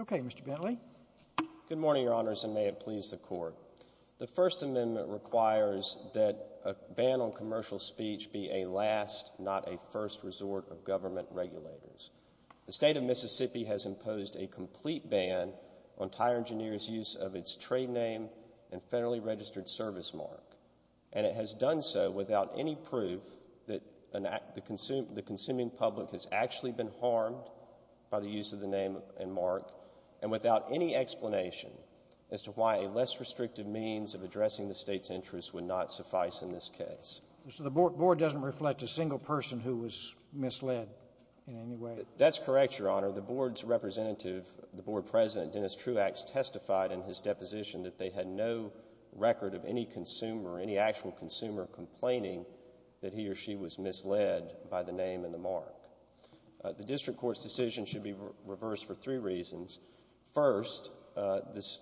Okay, Mr. Bentley. Good morning, Your Honors, and may it please the Court. The First Amendment requires that a ban on commercial speech be a last, not a first, resort of government regulators. The State of Mississippi has imposed a complete ban on tire engineers' use of its trade name and federally registered service mark, and it has done so without any proof that the consuming public has actually been harmed by the use of the name and mark, and without any explanation as to why a less restrictive means of addressing the State's interests would not suffice in this case. Mr. Bentley, the Board doesn't reflect a single person who was misled in any way. That's correct, Your Honor. The Board's representative, the Board President, Dennis actual consumer complaining that he or she was misled by the name and the mark. The District Court's decision should be reversed for three reasons. First, this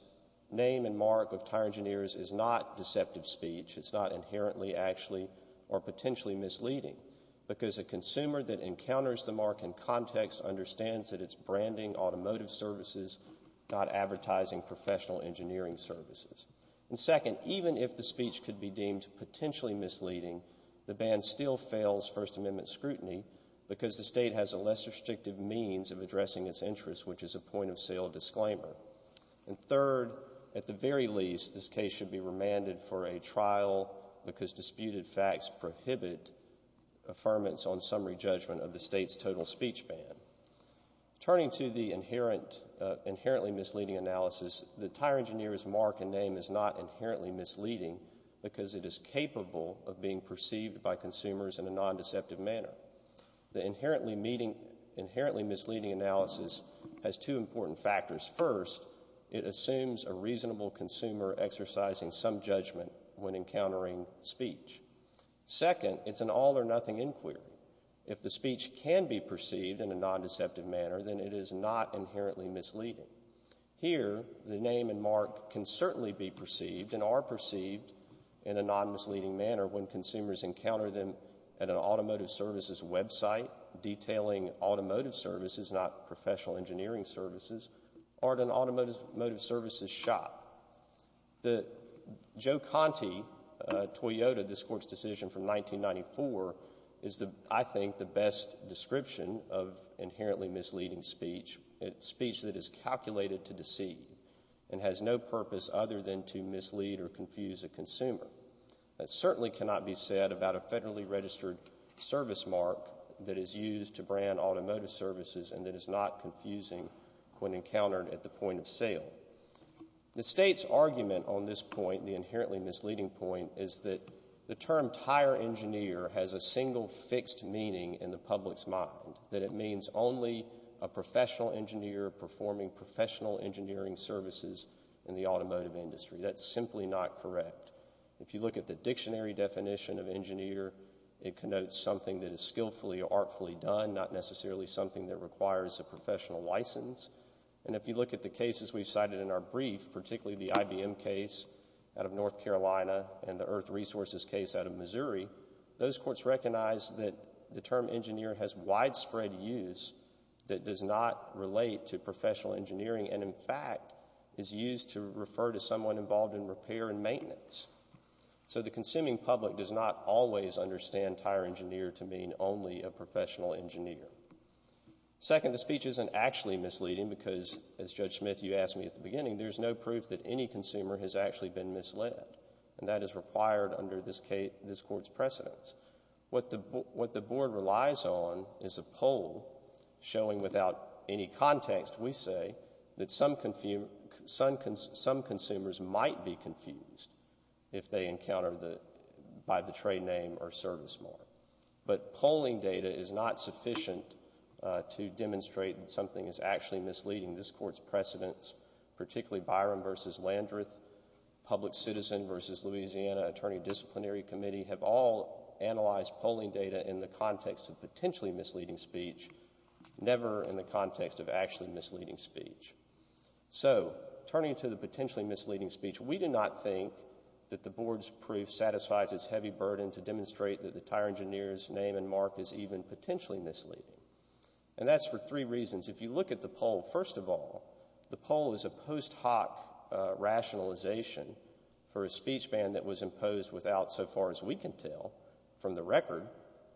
name and mark of tire engineers is not deceptive speech. It's not inherently, actually, or potentially misleading, because a consumer that encounters the mark in context understands that it's branding automotive services, not advertising professional engineering services. And second, even if the speech could be deemed potentially misleading, the ban still fails First Amendment scrutiny because the State has a less restrictive means of addressing its interests, which is a point of sale disclaimer. And third, at the very least, this case should be remanded for a trial because disputed facts prohibit affirmance on summary judgment of the State's total speech ban. Turning to the inherently misleading analysis, the tire engineer's mark and name is not inherently misleading because it is capable of being perceived by consumers in a non-deceptive manner. The inherently misleading analysis has two important factors. First, it assumes a reasonable consumer exercising some judgment when encountering speech. Second, it's an all-or-nothing inquiry. If the speech can be perceived in a non-deceptive manner, then it is not inherently misleading. Here, the name and mark can certainly be perceived and are perceived in a non-misleading manner when consumers encounter them at an automotive services website detailing automotive services, not professional engineering services, or at an automotive services shop. The Joe Conte, Toyota, this Court's decision from 1994 is, I think, the best description of inherently misleading speech, speech that is calculated to deceive and has no purpose other than to mislead or confuse a consumer. That certainly cannot be said about a federally registered service mark that is used to brand automotive services and that is not confusing when encountered at the point of sale. The State's argument on this point, the inherently misleading point, is that the term tire engineer has a single fixed meaning in the public's mind, that it means only a professional engineer performing professional engineering services in the automotive industry. That's simply not correct. If you look at the dictionary definition of engineer, it connotes something that is skillfully or artfully done, not necessarily something that requires a professional license. And if you look at the cases we've cited in our brief, particularly the IBM case out of North Carolina and the Earth Resources case out of Missouri, those courts recognize that the term engineer has widespread use that does not relate to professional engineering and, in fact, is used to refer to someone involved in repair and maintenance. So the consuming public does not always understand the term tire engineer to mean only a professional engineer. Second, the speech isn't actually misleading because, as Judge Smith, you asked me at the beginning, there's no proof that any consumer has actually been misled and that is required under this Court's precedence. What the Board relies on is a poll showing without any context, we say, that some consumers might be confused if they encounter by the trade name or service mark. But polling data is not sufficient to demonstrate that something is actually misleading. This Court's precedence, particularly Byron v. Landreth, Public Citizen v. Louisiana, Attorney Disciplinary Committee, have all analyzed polling data in the context of potentially misleading speech, never in the context of actually misleading speech. So, turning to the potentially misleading speech, we do not think that the Board's proof satisfies its heavy burden to demonstrate that the tire engineer's name and mark is even potentially misleading. And that's for three reasons. If you look at the poll, first of all, the poll is a post hoc rationalization for a speech ban that was imposed without, so far as we can tell, from the record,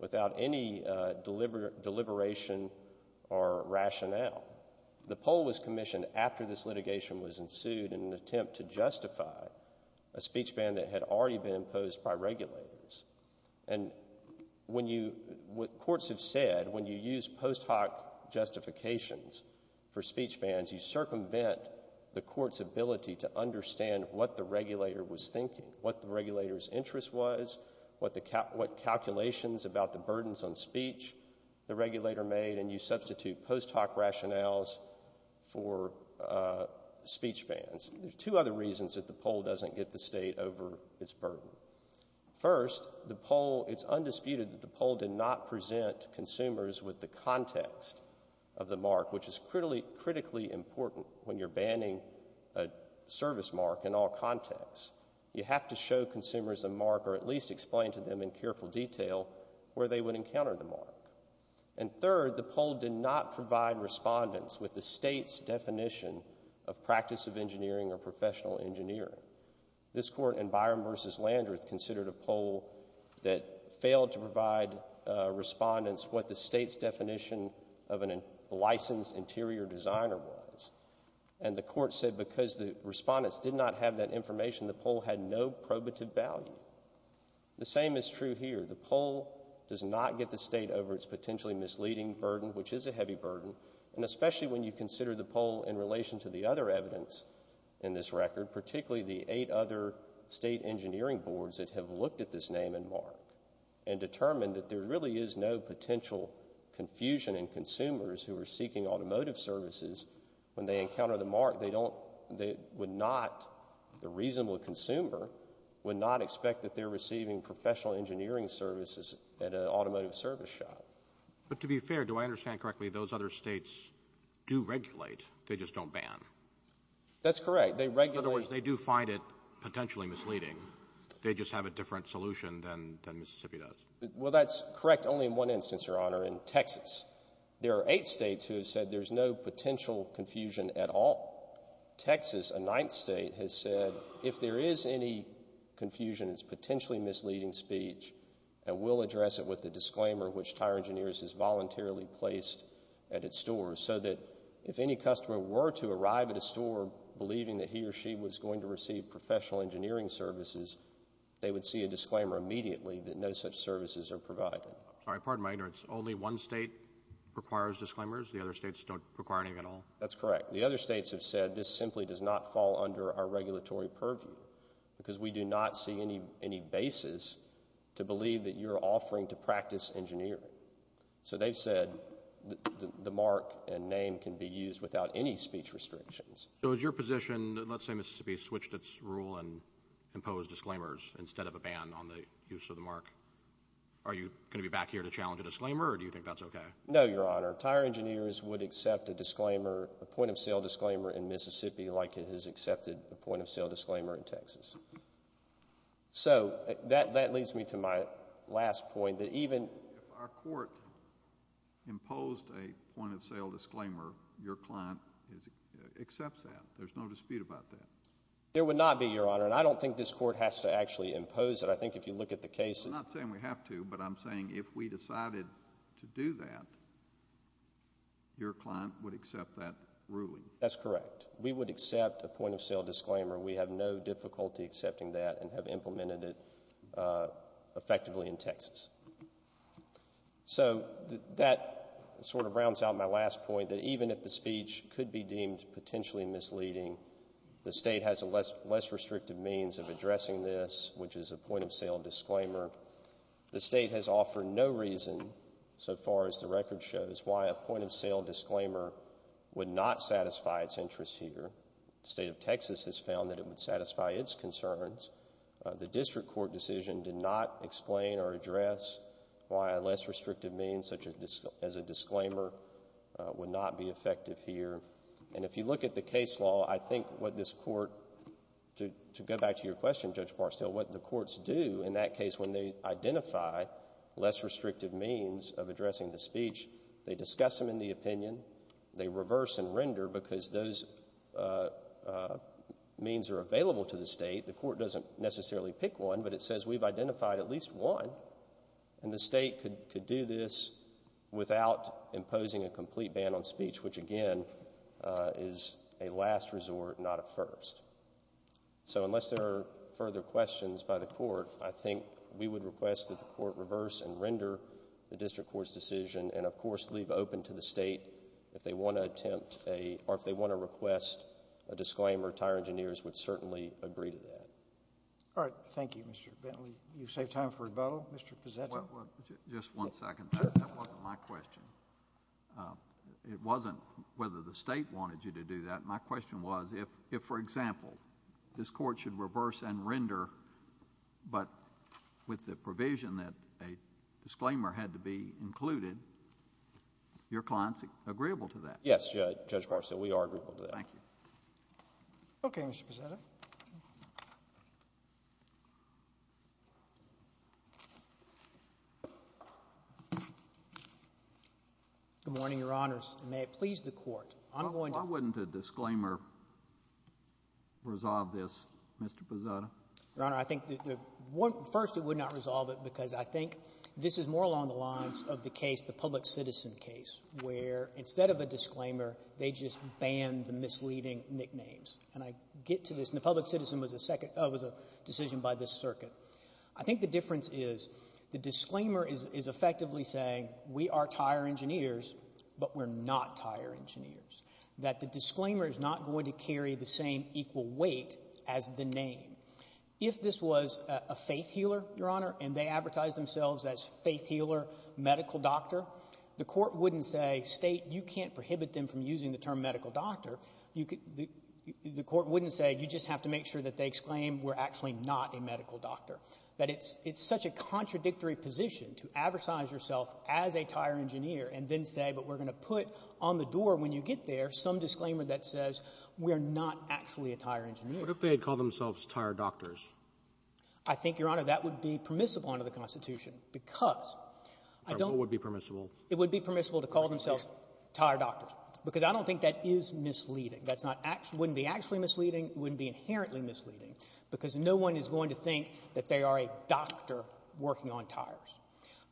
without any deliberation or rationale. The poll was commissioned after this litigation was ensued in an attempt to justify a speech ban that had already been imposed by regulators. And when you, what courts have said, when you use post hoc justifications for speech bans, you circumvent the Court's ability to understand what the regulator was thinking, what the concerns on speech the regulator made, and you substitute post hoc rationales for speech bans. There's two other reasons that the poll doesn't get the State over its burden. First, the poll, it's undisputed that the poll did not present consumers with the context of the mark, which is critically important when you're banning a service mark in all contexts. You have to show consumers the mark or at least explain to them in careful detail where they would encounter the mark. And third, the poll did not provide respondents with the State's definition of practice of engineering or professional engineering. This Court in Byron v. Landreth considered a poll that failed to provide respondents what the State's definition of a licensed interior designer was. And the Court said because the respondents did not have that information, the poll had no probative value. The same is true here. The poll doesn't get the State over its potentially misleading burden, which is a heavy burden, and especially when you consider the poll in relation to the other evidence in this record, particularly the eight other State engineering boards that have looked at this name and mark and determined that there really is no potential confusion in consumers who are seeking automotive services when they encounter the mark. They would not, the reasonable consumer, would not expect that they're receiving professional engineering services at an automotive service shop. But to be fair, do I understand correctly, those other States do regulate, they just don't ban? That's correct. They regulate. In other words, they do find it potentially misleading. They just have a different solution than Mississippi does. Well that's correct only in one instance, Your Honor, in Texas. There are eight States who have said there's no potential confusion at all. Texas, a ninth State, has said if there is any confusion, it's potentially misleading speech, and we'll address it with the disclaimer which Tire Engineers has voluntarily placed at its store so that if any customer were to arrive at a store believing that he or she was going to receive professional engineering services, they would see a disclaimer immediately that no such services are provided. I'm sorry, pardon my ignorance. Only one State requires disclaimers? The other States don't require anything at all? That's correct. The other States have said this simply does not fall under our regulatory purview because we do not see any basis to believe that you're offering to practice engineering. So they've said the mark and name can be used without any speech restrictions. So is your position, let's say Mississippi switched its rule and imposed disclaimers instead of a ban on the use of the mark, are you going to be back here to challenge a disclaimer or do you think that's okay? No, Your Honor. Tire Engineers would accept a disclaimer, a point of sale disclaimer in Texas. So that leads me to my last point that even If our court imposed a point of sale disclaimer, your client accepts that. There's no dispute about that. There would not be, Your Honor, and I don't think this court has to actually impose it. I think if you look at the cases I'm not saying we have to, but I'm saying if we decided to do that, your client would accept that ruling. That's correct. We would accept a point of sale disclaimer. We have no difficulty accepting that and have implemented it effectively in Texas. So that sort of rounds out my last point that even if the speech could be deemed potentially misleading, the state has a less restrictive means of addressing this, which is a point of sale disclaimer. The state has offered no reason, so far as the record shows, why a point of sale disclaimer would not satisfy its interest here. The state of Texas has found that it would satisfy its concerns. The district court decision did not explain or address why a less restrictive means, such as a disclaimer, would not be effective here. And if you look at the case law, I think what this court, to go back to your question, Judge Barstow, what the courts do in that case when they identify less restrictive means of addressing the speech, they discuss them in the opinion, they reverse and render because those means are available to the state. The court doesn't necessarily pick one, but it says we've identified at least one, and the state could do this without imposing a complete ban on speech, which again is a last resort, not a first. So unless there are further questions by the court, I think we would request that the court make a decision and, of course, leave open to the state if they want to attempt a, or if they want to request a disclaimer, tire engineers would certainly agree to that. All right. Thank you, Mr. Bentley. You save time for rebuttal. Mr. Pizzetto. Just one second. That wasn't my question. It wasn't whether the state wanted you to do that. My question was if, for example, this court should reverse and render, but with the provision that a disclaimer had to be included, your client is agreeable to that? Yes, Judge Barstow, we are agreeable to that. Thank you. Okay, Mr. Pizzetto. Good morning, Your Honors, and may it please the Court, I'm going to Why wouldn't a disclaimer resolve this, Mr. Pizzetto? Your Honor, I think, first, it would not resolve it because I think this is more along the lines of the case, the public citizen case, where instead of a disclaimer, they just banned the misleading nicknames. And I get to this, and the public citizen was a decision by this circuit. I think the difference is the disclaimer is effectively saying we are tire engineers, but we're not tire engineers, that the disclaimer is not going to carry the same equal weight as the name. If this was a faith healer, Your Honor, and they advertised themselves as faith healer, medical doctor, the court wouldn't say, state, you can't prohibit them from using the term medical doctor. The court wouldn't say you just have to make sure that they exclaim we're actually not a medical doctor. But it's such a contradictory position to advertise yourself as a tire engineer and then say, but we're going to put on the door when you get there some disclaimer that says we're not actually a tire engineer. What if they had called themselves tire doctors? I think, Your Honor, that would be permissible under the Constitution because I don't What would be permissible? It would be permissible to call themselves tire doctors because I don't think that is misleading. That's not actually — wouldn't be actually misleading. It wouldn't be inherently misleading because no one is going to think that they are a doctor working on tires.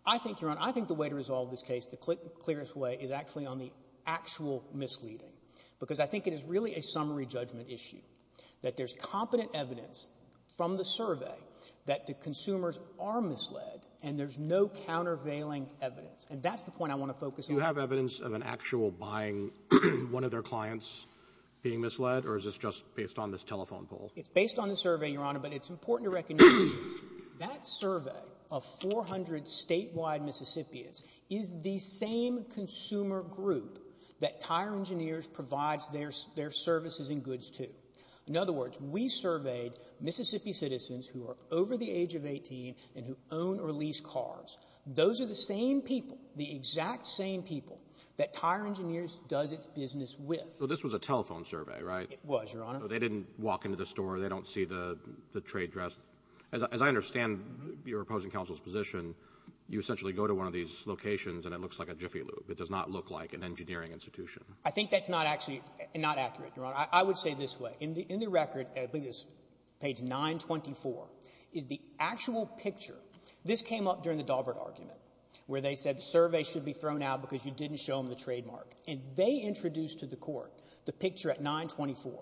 I think, Your Honor, I think the way to resolve this case, the clearest way, is actually on the actual misleading, because I think it is really a summary judgment issue, that there's competent evidence from the survey that the consumers are misled and there's no countervailing evidence. And that's the point I want to focus on. Do you have evidence of an actual buying one of their clients being misled, or is this just based on this telephone poll? It's based on the survey, Your Honor, but it's important to recognize that survey of 400 statewide Mississippians is the same consumer group that Tire Engineers provides their services and goods to. In other words, we surveyed Mississippi citizens who are over the age of 18 and who own or lease cars. Those are the same people, the exact same people that Tire Engineers does its business with. Well, this was a telephone survey, right? It was, Your Honor. So they didn't walk into the store. They don't see the trade dress. As I understand your opposing counsel's position, you essentially go to one of these locations and it looks like a jiffy loop. It does not look like an engineering institution. I think that's not actually — not accurate, Your Honor. I would say this way. In the record, I believe it's page 924, is the actual picture. This came up during the Daubert argument, where they said surveys should be thrown out because you didn't show them the trademark. And they introduced to the Court the picture at 924.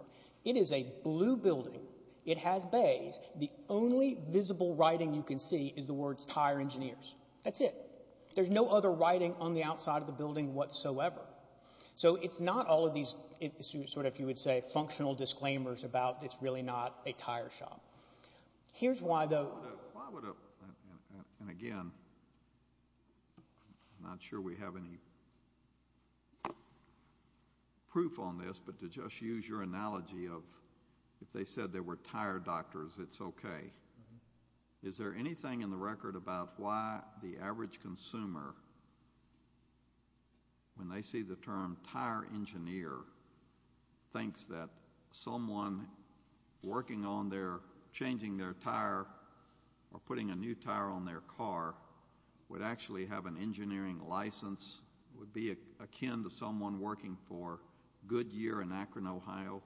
It is a blue building. It has bays. The only visible writing you can see is the words Tire Engineers. That's it. There's no other writing on the outside of the building whatsoever. So it's not all of these sort of, you would say, functional disclaimers about it's really not a tire shop. Here's why, though — Why would a — and again, I'm not sure we have any proof on this, but to just use your analogy of if they said they were tire doctors, it's okay. Is there anything in the record about why the average consumer, when they see the term tire engineer, thinks that someone working on their — changing their tire or putting a new tire on their car would actually have an engineering license, would be akin to someone working for Goodyear in Akron, Ohio?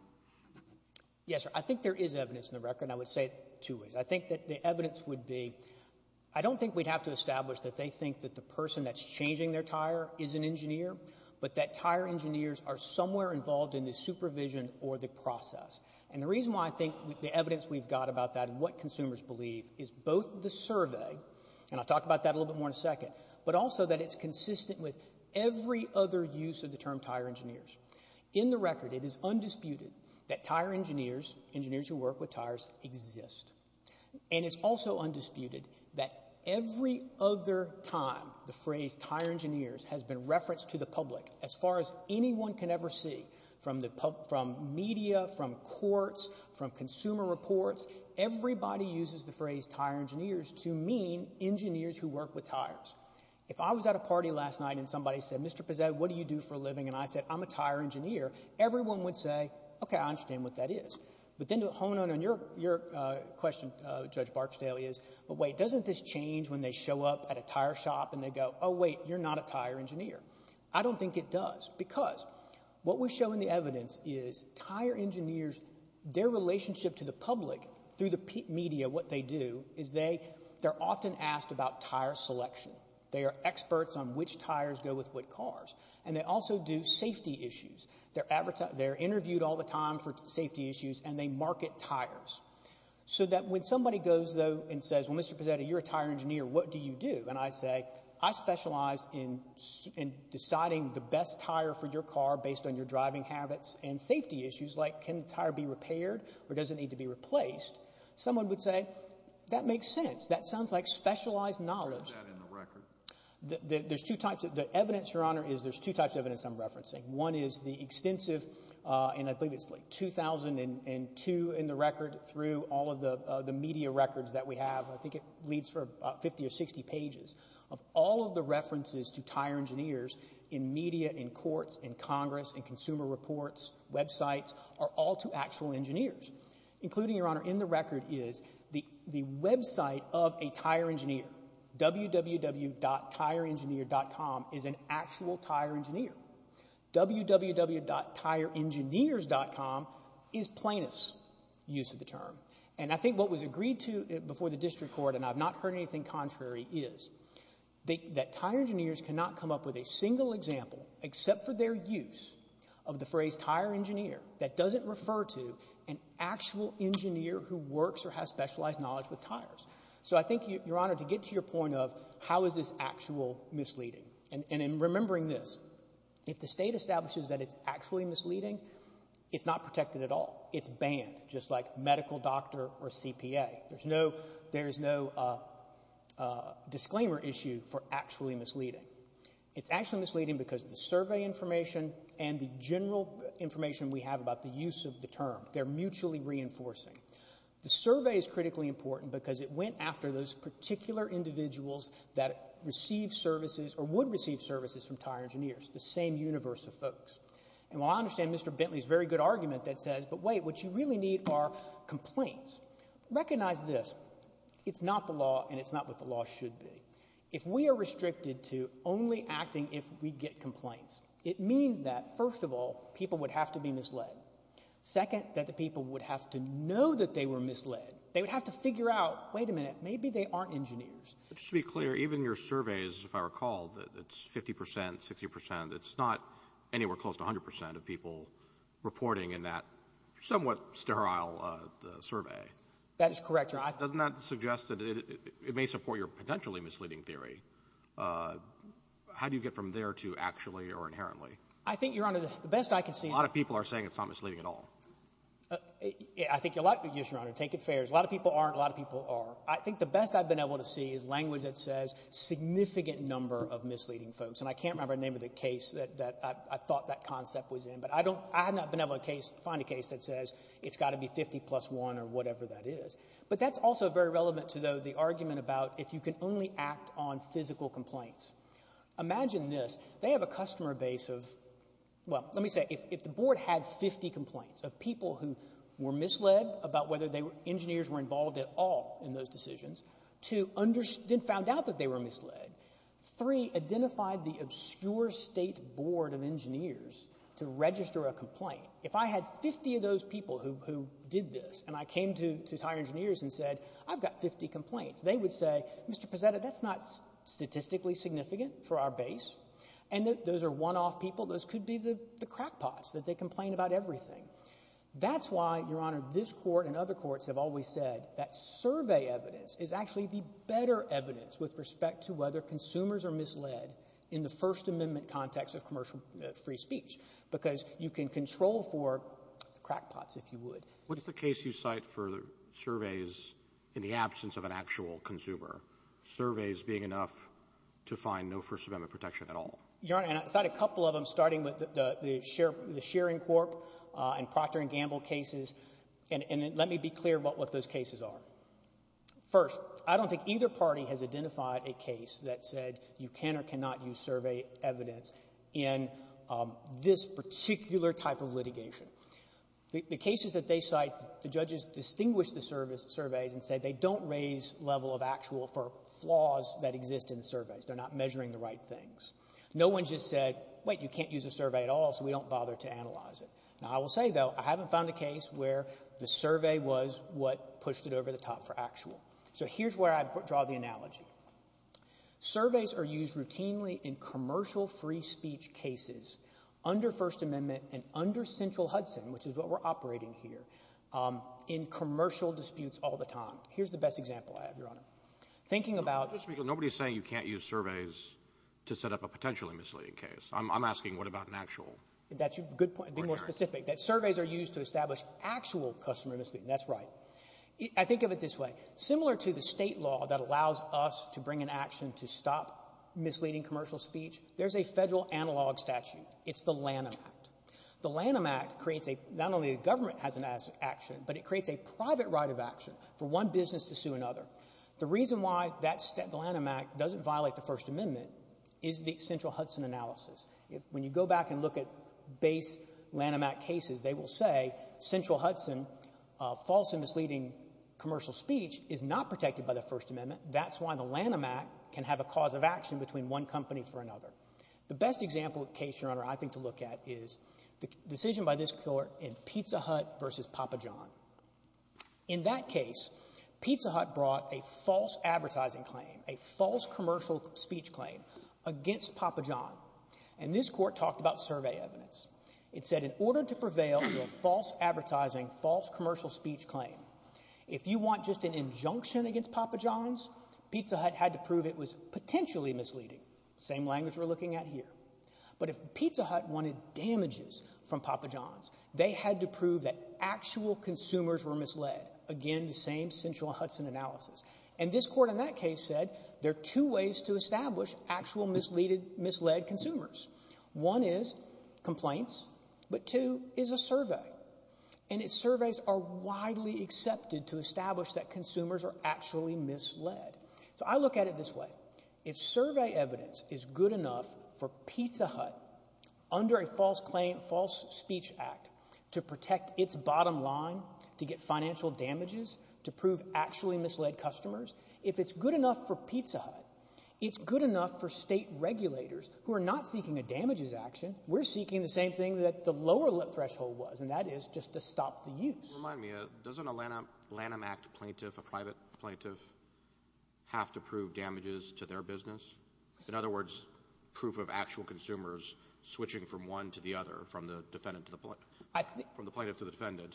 Yes, sir. I think there is evidence in the record, and I would say it two ways. I think that the evidence would be — I don't think we'd have to establish that they think that the person that's changing their tire is an engineer, but that tire engineers are somewhere involved in the supervision or the process. And the reason why I think the evidence we've got about that and what consumers believe is both the survey, and I'll talk about that a little bit more in a second, but also that it's consistent with every other use of the term tire engineers. In the record, it is undisputed that tire engineers, engineers who work with tires, exist. And it's also undisputed that every other time the phrase tire engineers has been referenced to the public as far as anyone can ever see, from media, from courts, from consumer reports, everybody uses the phrase tire engineers to mean engineers who work with tires. If I was at a party last night and somebody said, Mr. Pezet, what do you do for a living? And I said, I'm a tire engineer, everyone would say, okay, I understand what that is. But then to hone in on your question, Judge Barksdale, is, but wait, doesn't this change when they show up at a tire shop and they go, oh, wait, you're not a tire engineer? I don't think it does, because what we show in the evidence is tire engineers, their relationship to the public through the media, what they do is they're often asked about tire selection. They are experts on which tires go with what cars. And they also do safety issues. They're interviewed all the time for safety issues and they market tires. So that when somebody goes, though, and says, well, Mr. Pezet, you're a tire engineer, what do you do? And I say, I specialize in deciding the best tire for your car based on your driving habits and safety issues, like can the tire be repaired or does it need to be replaced? Someone would say, that makes sense. That sounds like specialized knowledge. Where is that in the record? The evidence, Your Honor, is there's two types of evidence I'm referencing. One is the extensive, and I believe it's 2002 in the record, through all of the media records that we have, I think it leads for 50 or 60 pages, of all of the references to tire engineers in media, in courts, in Congress, in consumer reports, websites, are all to actual engineers. Including, Your Honor, in the record is the website of a tire engineer. www.tireengineer.com is an actual tire engineer. www.tireengineers.com is plaintiffs' use of the term. And I think what was agreed to before the district court, and I've not heard anything contrary, is that tire engineers cannot come up with a single example, except for their use, of the phrase tire engineer, that doesn't refer to an actual engineer who works or has specialized knowledge with tires. So I think, Your Honor, to get to your point of how is this actual misleading, and in remembering this, if the state establishes that it's actually misleading, it's not protected at all. It's banned, just like medical doctor or CPA. There's no disclaimer issue for actually misleading. It's actually misleading because of the survey information and the general information we have about the use of the term. They're mutually reinforcing. The survey is critically important because it went after those particular individuals that receive services or would receive services from tire engineers, the same universe of folks. And while I understand Mr. Bentley's very good argument that says, but wait, what you really need are complaints, recognize this. It's not the law, and it's not what the law should be. If we are restricted to only acting if we get complaints, it means that, first of all, people would have to be misled. Second, that the people would have to know that they were misled. They would have to figure out, wait a minute, maybe they aren't engineers. Just to be clear, even your surveys, if I recall, it's 50%, 60%. It's not anywhere close to 100% of people reporting in that somewhat sterile survey. That is correct, Your Honor. Doesn't that suggest that it may support your potentially misleading theory? How do you get from there to actually or inherently? I think, Your Honor, the best I can see is— A lot of people are saying it's not misleading at all. Yes, Your Honor, take it fair. A lot of people aren't, a lot of people are. I think the best I've been able to see is language that says significant number of misleading folks. And I can't remember the name of the case that I thought that concept was in, but I have not been able to find a case that says it's got to be 50 plus 1 or whatever that is. But that's also very relevant to, though, the argument about if you can only act on physical complaints. Imagine this. They have a customer base of—well, let me say, if the board had 50 complaints of people who were misled about whether engineers were involved at all in those decisions, two, then found out that they were misled, three, identified the obscure state board of engineers to register a complaint. If I had 50 of those people who did this and I came to these higher engineers and said, I've got 50 complaints, they would say, Mr. Pezzetta, that's not statistically significant for our base. And those are one-off people. Those could be the crackpots, that they complain about everything. That's why, Your Honor, this Court and other courts have always said that survey evidence is actually the better evidence with respect to whether consumers are misled in the First Amendment context of commercial free speech because you can control for crackpots, if you would. What is the case you cite for the surveys in the absence of an actual consumer, surveys being enough to find no First Amendment protection at all? Your Honor, I cite a couple of them, starting with the Shearing Corp. and Procter & Gamble cases. And let me be clear about what those cases are. First, I don't think either party has identified a case that said you can or cannot use survey evidence in this particular type of litigation. The cases that they cite, the judges distinguish the surveys and say they don't raise level of actual for flaws that exist in the surveys. They're not measuring the right things. No one just said, wait, you can't use a survey at all, so we don't bother to analyze it. Now, I will say, though, I haven't found a case where the survey was what pushed it over the top for actual. So here's where I draw the analogy. Surveys are used routinely in commercial free speech cases under First Amendment and under central Hudson, which is what we're operating here, in commercial disputes all the time. Here's the best example I have, Your Honor. Thinking about— Nobody's saying you can't use surveys to set up a potentially misleading case. I'm asking what about an actual? That's a good point. Be more specific. That surveys are used to establish actual customer misleading. That's right. I think of it this way. Similar to the state law that allows us to bring an action to stop misleading commercial speech, there's a federal analog statute. It's the Lanham Act. The Lanham Act creates a—not only the government has an action, but it creates a private right of action for one business to sue another. The reason why the Lanham Act doesn't violate the First Amendment is the central Hudson analysis. When you go back and look at base Lanham Act cases, they will say central Hudson, false and misleading commercial speech is not protected by the First Amendment. That's why the Lanham Act can have a cause of action between one company for another. The best example case, Your Honor, I think to look at is the decision by this Court in Pizza Hut v. Papa John. In that case, Pizza Hut brought a false advertising claim, a false commercial speech claim against Papa John. And this Court talked about survey evidence. It said in order to prevail in a false advertising, false commercial speech claim, if you want just an injunction against Papa John's, Pizza Hut had to prove it was potentially misleading. Same language we're looking at here. But if Pizza Hut wanted damages from Papa John's, they had to prove that actual consumers were misled. Again, the same central Hudson analysis. And this Court in that case said there are two ways to establish actual misled consumers. One is complaints, but two is a survey. And its surveys are widely accepted to establish that consumers are actually misled. So I look at it this way. If survey evidence is good enough for Pizza Hut under a false claim, false speech act, to protect its bottom line, to get financial damages, to prove actually misled customers, if it's good enough for Pizza Hut, it's good enough for state regulators who are not seeking a damages action. We're seeking the same thing that the lower threshold was, and that is just to stop the use. Remind me. Doesn't a Lanham Act plaintiff, a private plaintiff, have to prove damages to their business? In other words, proof of actual consumers switching from one to the other, from the defendant to the plaintiff, from the plaintiff to the defendant.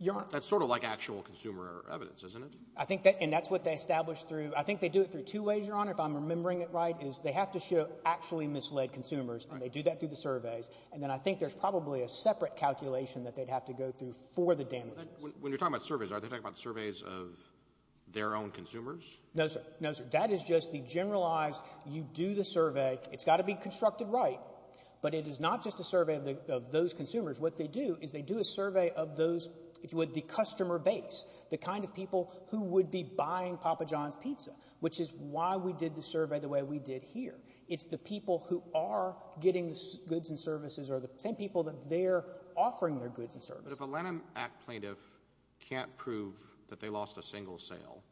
Your Honor. That's sort of like actual consumer evidence, isn't it? I think that's what they establish through. I think they do it through two ways, Your Honor, if I'm remembering it right, is they have to show actually misled consumers, and they do that through the surveys. And then I think there's probably a separate calculation that they'd have to go through for the damages. When you're talking about surveys, are they talking about surveys of their own consumers? No, sir. No, sir. That is just the generalized you do the survey. It's got to be constructed right. But it is not just a survey of those consumers. What they do is they do a survey of those with the customer base, the kind of people who would be buying Papa John's pizza, which is why we did the survey the way we did here. It's the people who are getting goods and services or the same people that they're offering their goods and services. But if a Lennon Act plaintiff can't prove that they lost a single sale,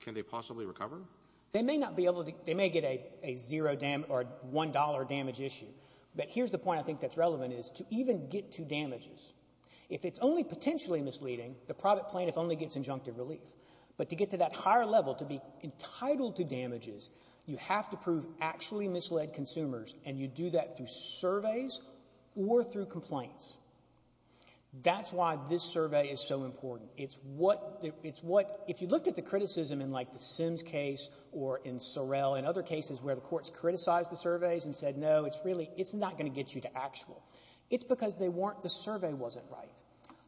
can they possibly recover? They may not be able to. They may get a $1 damage issue. But here's the point I think that's relevant is to even get to damages. If it's only potentially misleading, the private plaintiff only gets injunctive relief. But to get to that higher level, to be entitled to damages, you have to prove actually misled consumers, and you do that through surveys or through complaints. That's why this survey is so important. If you looked at the criticism in like the Sims case or in Sorrell and other cases where the courts criticized the surveys and said, no, it's not going to get you to actual, it's because the survey wasn't right.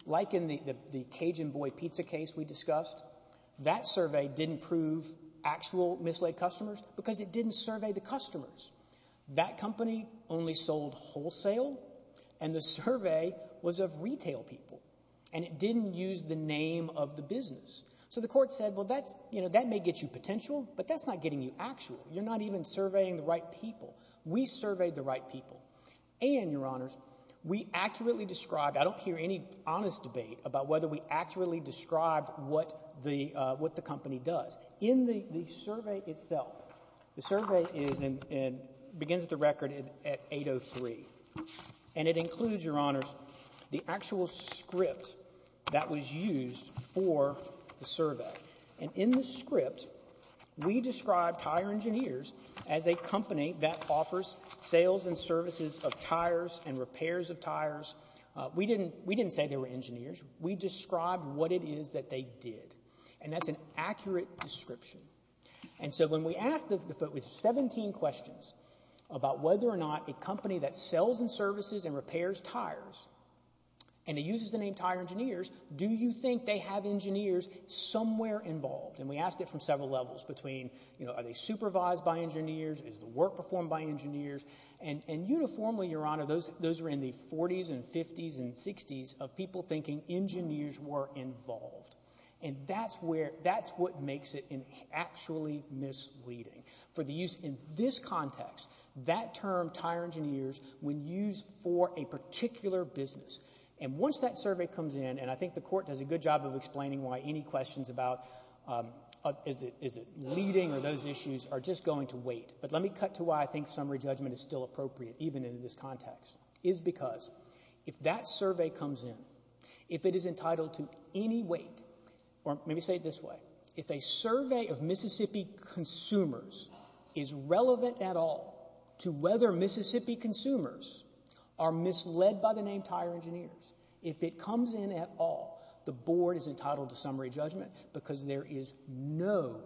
Like in the Cajun Boy pizza case we discussed, that survey didn't prove actual misled customers because it didn't survey the customers. That company only sold wholesale, and the survey was of retail people, and it didn't use the name of the business. So the court said, well, that may get you potential, but that's not getting you actual. You're not even surveying the right people. We surveyed the right people. And, Your Honors, we accurately described – I don't hear any honest debate about whether we accurately described what the company does. In the survey itself, the survey begins at the record at 8.03, and it includes, Your Honors, the actual script that was used for the survey. And in the script, we described tire engineers as a company that offers sales and services of tires and repairs of tires. We didn't say they were engineers. We described what it is that they did. And that's an accurate description. And so when we asked – there was 17 questions about whether or not a company that sells and services and repairs tires, and it uses the name tire engineers, do you think they have engineers somewhere involved? And we asked it from several levels between, you know, are they supervised by engineers? Is the work performed by engineers? And uniformly, Your Honor, those were in the 40s and 50s and 60s of people thinking engineers were involved. And that's where – that's what makes it actually misleading. For the use in this context, that term, tire engineers, when used for a particular business. And once that survey comes in – and I think the Court does a good job of explaining why any questions about, is it leading or those issues, are just going to wait. But let me cut to why I think summary judgment is still appropriate even in this context. Is because if that survey comes in, if it is entitled to any weight – or maybe say it this way. If a survey of Mississippi consumers is relevant at all to whether Mississippi consumers are misled by the name tire engineers, if it comes in at all, the Board is entitled to summary judgment because there is no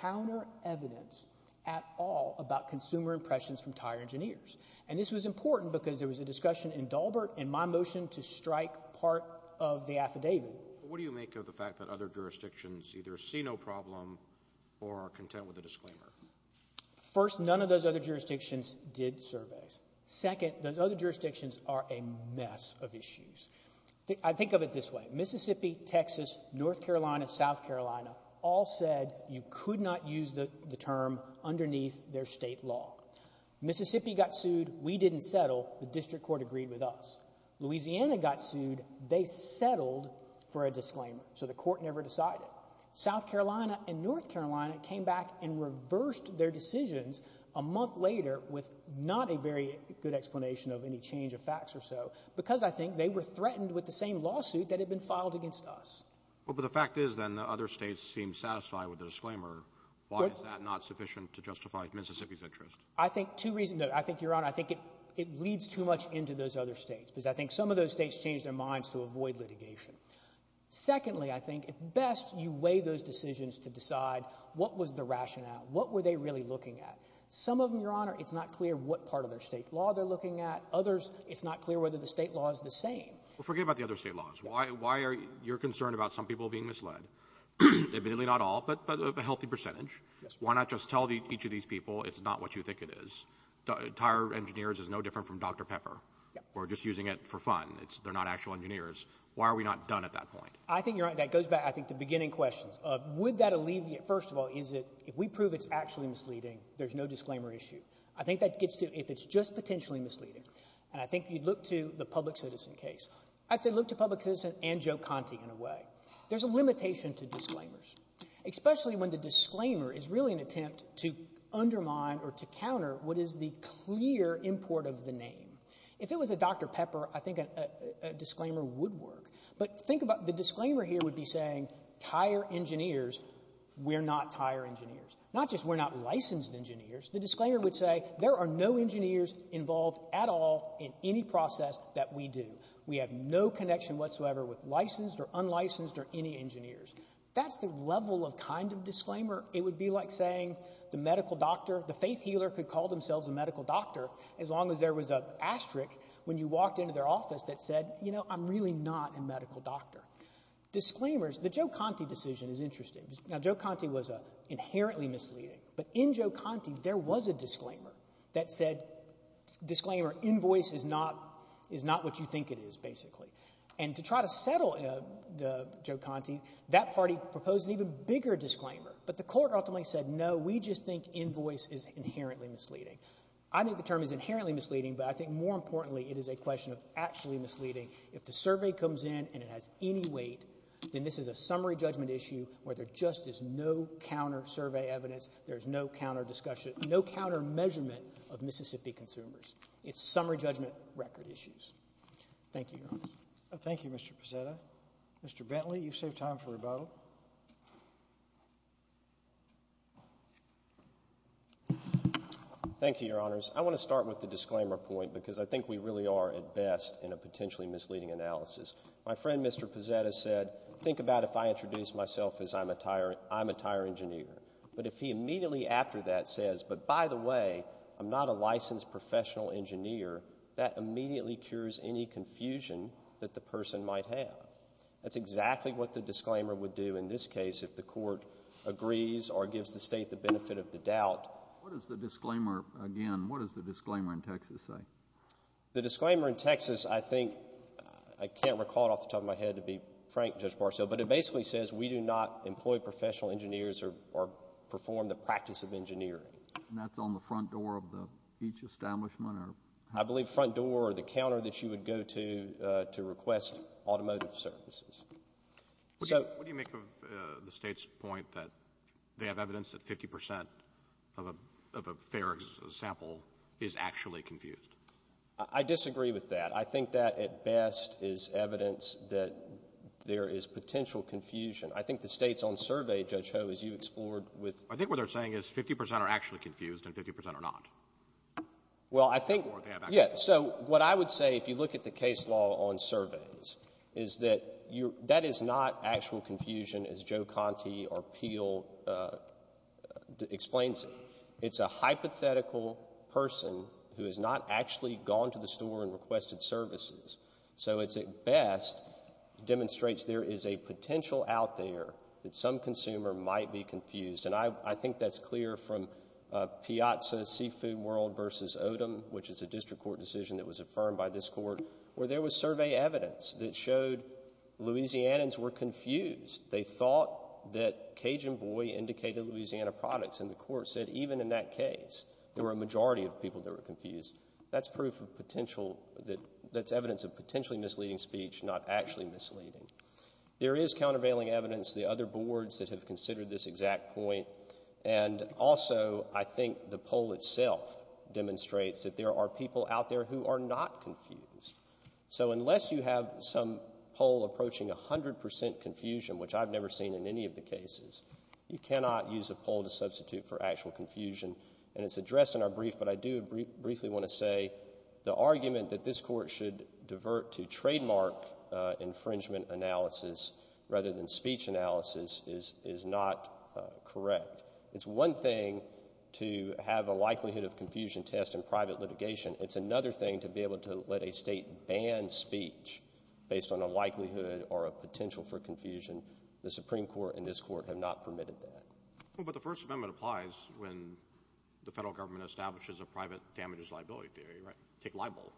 counter evidence at all about consumer impressions from tire engineers. And this was important because there was a discussion in Dalbert in my motion to strike part of the affidavit. What do you make of the fact that other jurisdictions either see no problem or are content with a disclaimer? First, none of those other jurisdictions did surveys. Second, those other jurisdictions are a mess of issues. I think of it this way. Mississippi, Texas, North Carolina, South Carolina all said you could not use the term underneath their state law. Mississippi got sued. We did not settle. The district court agreed with us. Louisiana got sued. They settled for a disclaimer. So the court never decided. South Carolina and North Carolina came back and reversed their decisions a month later with not a very good explanation of any change of facts or so because I think they were threatened with the same lawsuit that had been filed against us. Well, but the fact is then that other states seem satisfied with the disclaimer. Why is that not sufficient to justify Mississippi's interest? I think two reasons. I think, Your Honor, I think it leads too much into those other states because I think some of those states changed their minds to avoid litigation. Secondly, I think at best you weigh those decisions to decide what was the rationale, what were they really looking at. Some of them, Your Honor, it's not clear what part of their state law they're looking at. Others, it's not clear whether the state law is the same. Well, forget about the other state laws. Why are you concerned about some people being misled? Admittedly not all, but a healthy percentage. Why not just tell each of these people it's not what you think it is? Tire Engineers is no different from Dr. Pepper. We're just using it for fun. They're not actual engineers. Why are we not done at that point? I think, Your Honor, that goes back, I think, to beginning questions. Would that alleviate – first of all, is it – if we prove it's actually misleading, there's no disclaimer issue. I think that gets to if it's just potentially misleading. And I think you'd look to the public citizen case. I'd say look to public citizen and Joe Conte in a way. There's a limitation to disclaimers, especially when the disclaimer is really an attempt to undermine or to counter what is the clear import of the name. If it was a Dr. Pepper, I think a disclaimer would work. But think about – the disclaimer here would be saying, Tire Engineers, we're not tire engineers. Not just we're not licensed engineers. The disclaimer would say there are no engineers involved at all in any process that we do. We have no connection whatsoever with licensed or unlicensed or any engineers. That's the level of kind of disclaimer. It would be like saying the medical doctor – the faith healer could call themselves a medical doctor as long as there was an asterisk when you walked into their office that said, you know, I'm really not a medical doctor. Disclaimers – the Joe Conte decision is interesting. Now, Joe Conte was inherently misleading. But in Joe Conte, there was a disclaimer that said, disclaimer, invoice is not what you think it is, basically. And to try to settle Joe Conte, that party proposed an even bigger disclaimer. But the court ultimately said, no, we just think invoice is inherently misleading. I think the term is inherently misleading, but I think more importantly it is a question of actually misleading. If the survey comes in and it has any weight, then this is a summary judgment issue where there just is no counter-survey evidence, there is no counter-discussion, no counter-measurement of Mississippi consumers. It's summary judgment record issues. Thank you, Your Honors. Thank you, Mr. Pizzetta. Mr. Bentley, you've saved time for rebuttal. Thank you, Your Honors. I want to start with the disclaimer point because I think we really are at best in a potentially misleading analysis. My friend, Mr. Pizzetta, said, think about if I introduced myself as I'm a tire engineer. But if he immediately after that says, but by the way, I'm not a licensed professional engineer, that immediately cures any confusion that the person might have. That's exactly what the disclaimer would do in this case if the court agrees or gives the State the benefit of the doubt. What does the disclaimer, again, what does the disclaimer in Texas say? The disclaimer in Texas, I think, I can't recall it off the top of my head to be frank, Judge Marcell, but it basically says we do not employ professional engineers or perform the practice of engineering. And that's on the front door of each establishment? I believe front door or the counter that you would go to to request automotive services. What do you make of the State's point that they have evidence that 50 percent of a fair sample is actually confused? I disagree with that. I think that at best is evidence that there is potential confusion. I think the State's own survey, Judge Ho, as you explored with — I think what they're saying is 50 percent are actually confused and 50 percent are not. Well, I think — Or they have evidence. Yeah. So what I would say if you look at the case law on surveys is that that is not actual confusion as Joe Conti or Peel explains it. It's a hypothetical person who has not actually gone to the store and requested services. So it's at best demonstrates there is a potential out there that some consumer might be confused. And I think that's clear from Piazza Seafood World v. Odom, which is a district court decision that was affirmed by this court, where there was survey evidence that showed Louisianans were confused. They thought that Cajun Boy indicated Louisiana products. And the court said even in that case, there were a majority of people that were confused. That's proof of potential — that's evidence of potentially misleading speech, not actually misleading. There is countervailing evidence. The other boards that have considered this exact point. And also, I think the poll itself demonstrates that there are people out there who are not confused. So unless you have some poll approaching 100 percent confusion, which I've never seen in any of the cases, you cannot use a poll to substitute for actual confusion. And it's addressed in our brief, but I do briefly want to say the argument that this court should divert to trademark infringement analysis rather than speech analysis is not correct. It's one thing to have a likelihood of confusion test in private litigation. It's another thing to be able to let a state ban speech based on a likelihood or a potential for confusion. The Supreme Court and this court have not permitted that. Well, but the First Amendment applies when the Federal Government establishes a private damages liability theory, right? Take libel.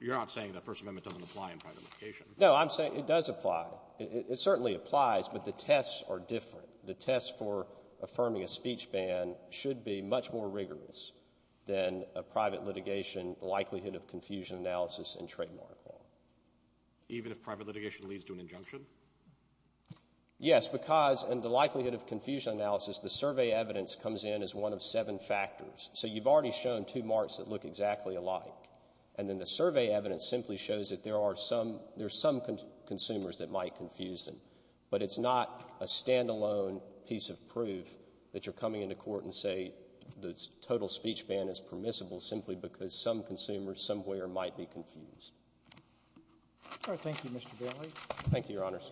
You're not saying the First Amendment doesn't apply in private litigation. No, I'm saying it does apply. It certainly applies, but the tests are different. The test for affirming a speech ban should be much more rigorous than a private litigation likelihood of confusion analysis in trademark law. Even if private litigation leads to an injunction? Yes, because in the likelihood of confusion analysis, the survey evidence comes in as one of seven factors. So you've already shown two marks that look exactly alike. And then the survey evidence simply shows that there are some consumers that might confuse them. But it's not a standalone piece of proof that you're coming into court and say the total speech ban is permissible simply because some consumers somewhere might be confused. All right. Thank you, Mr. Bailey. Thank you, Your Honors.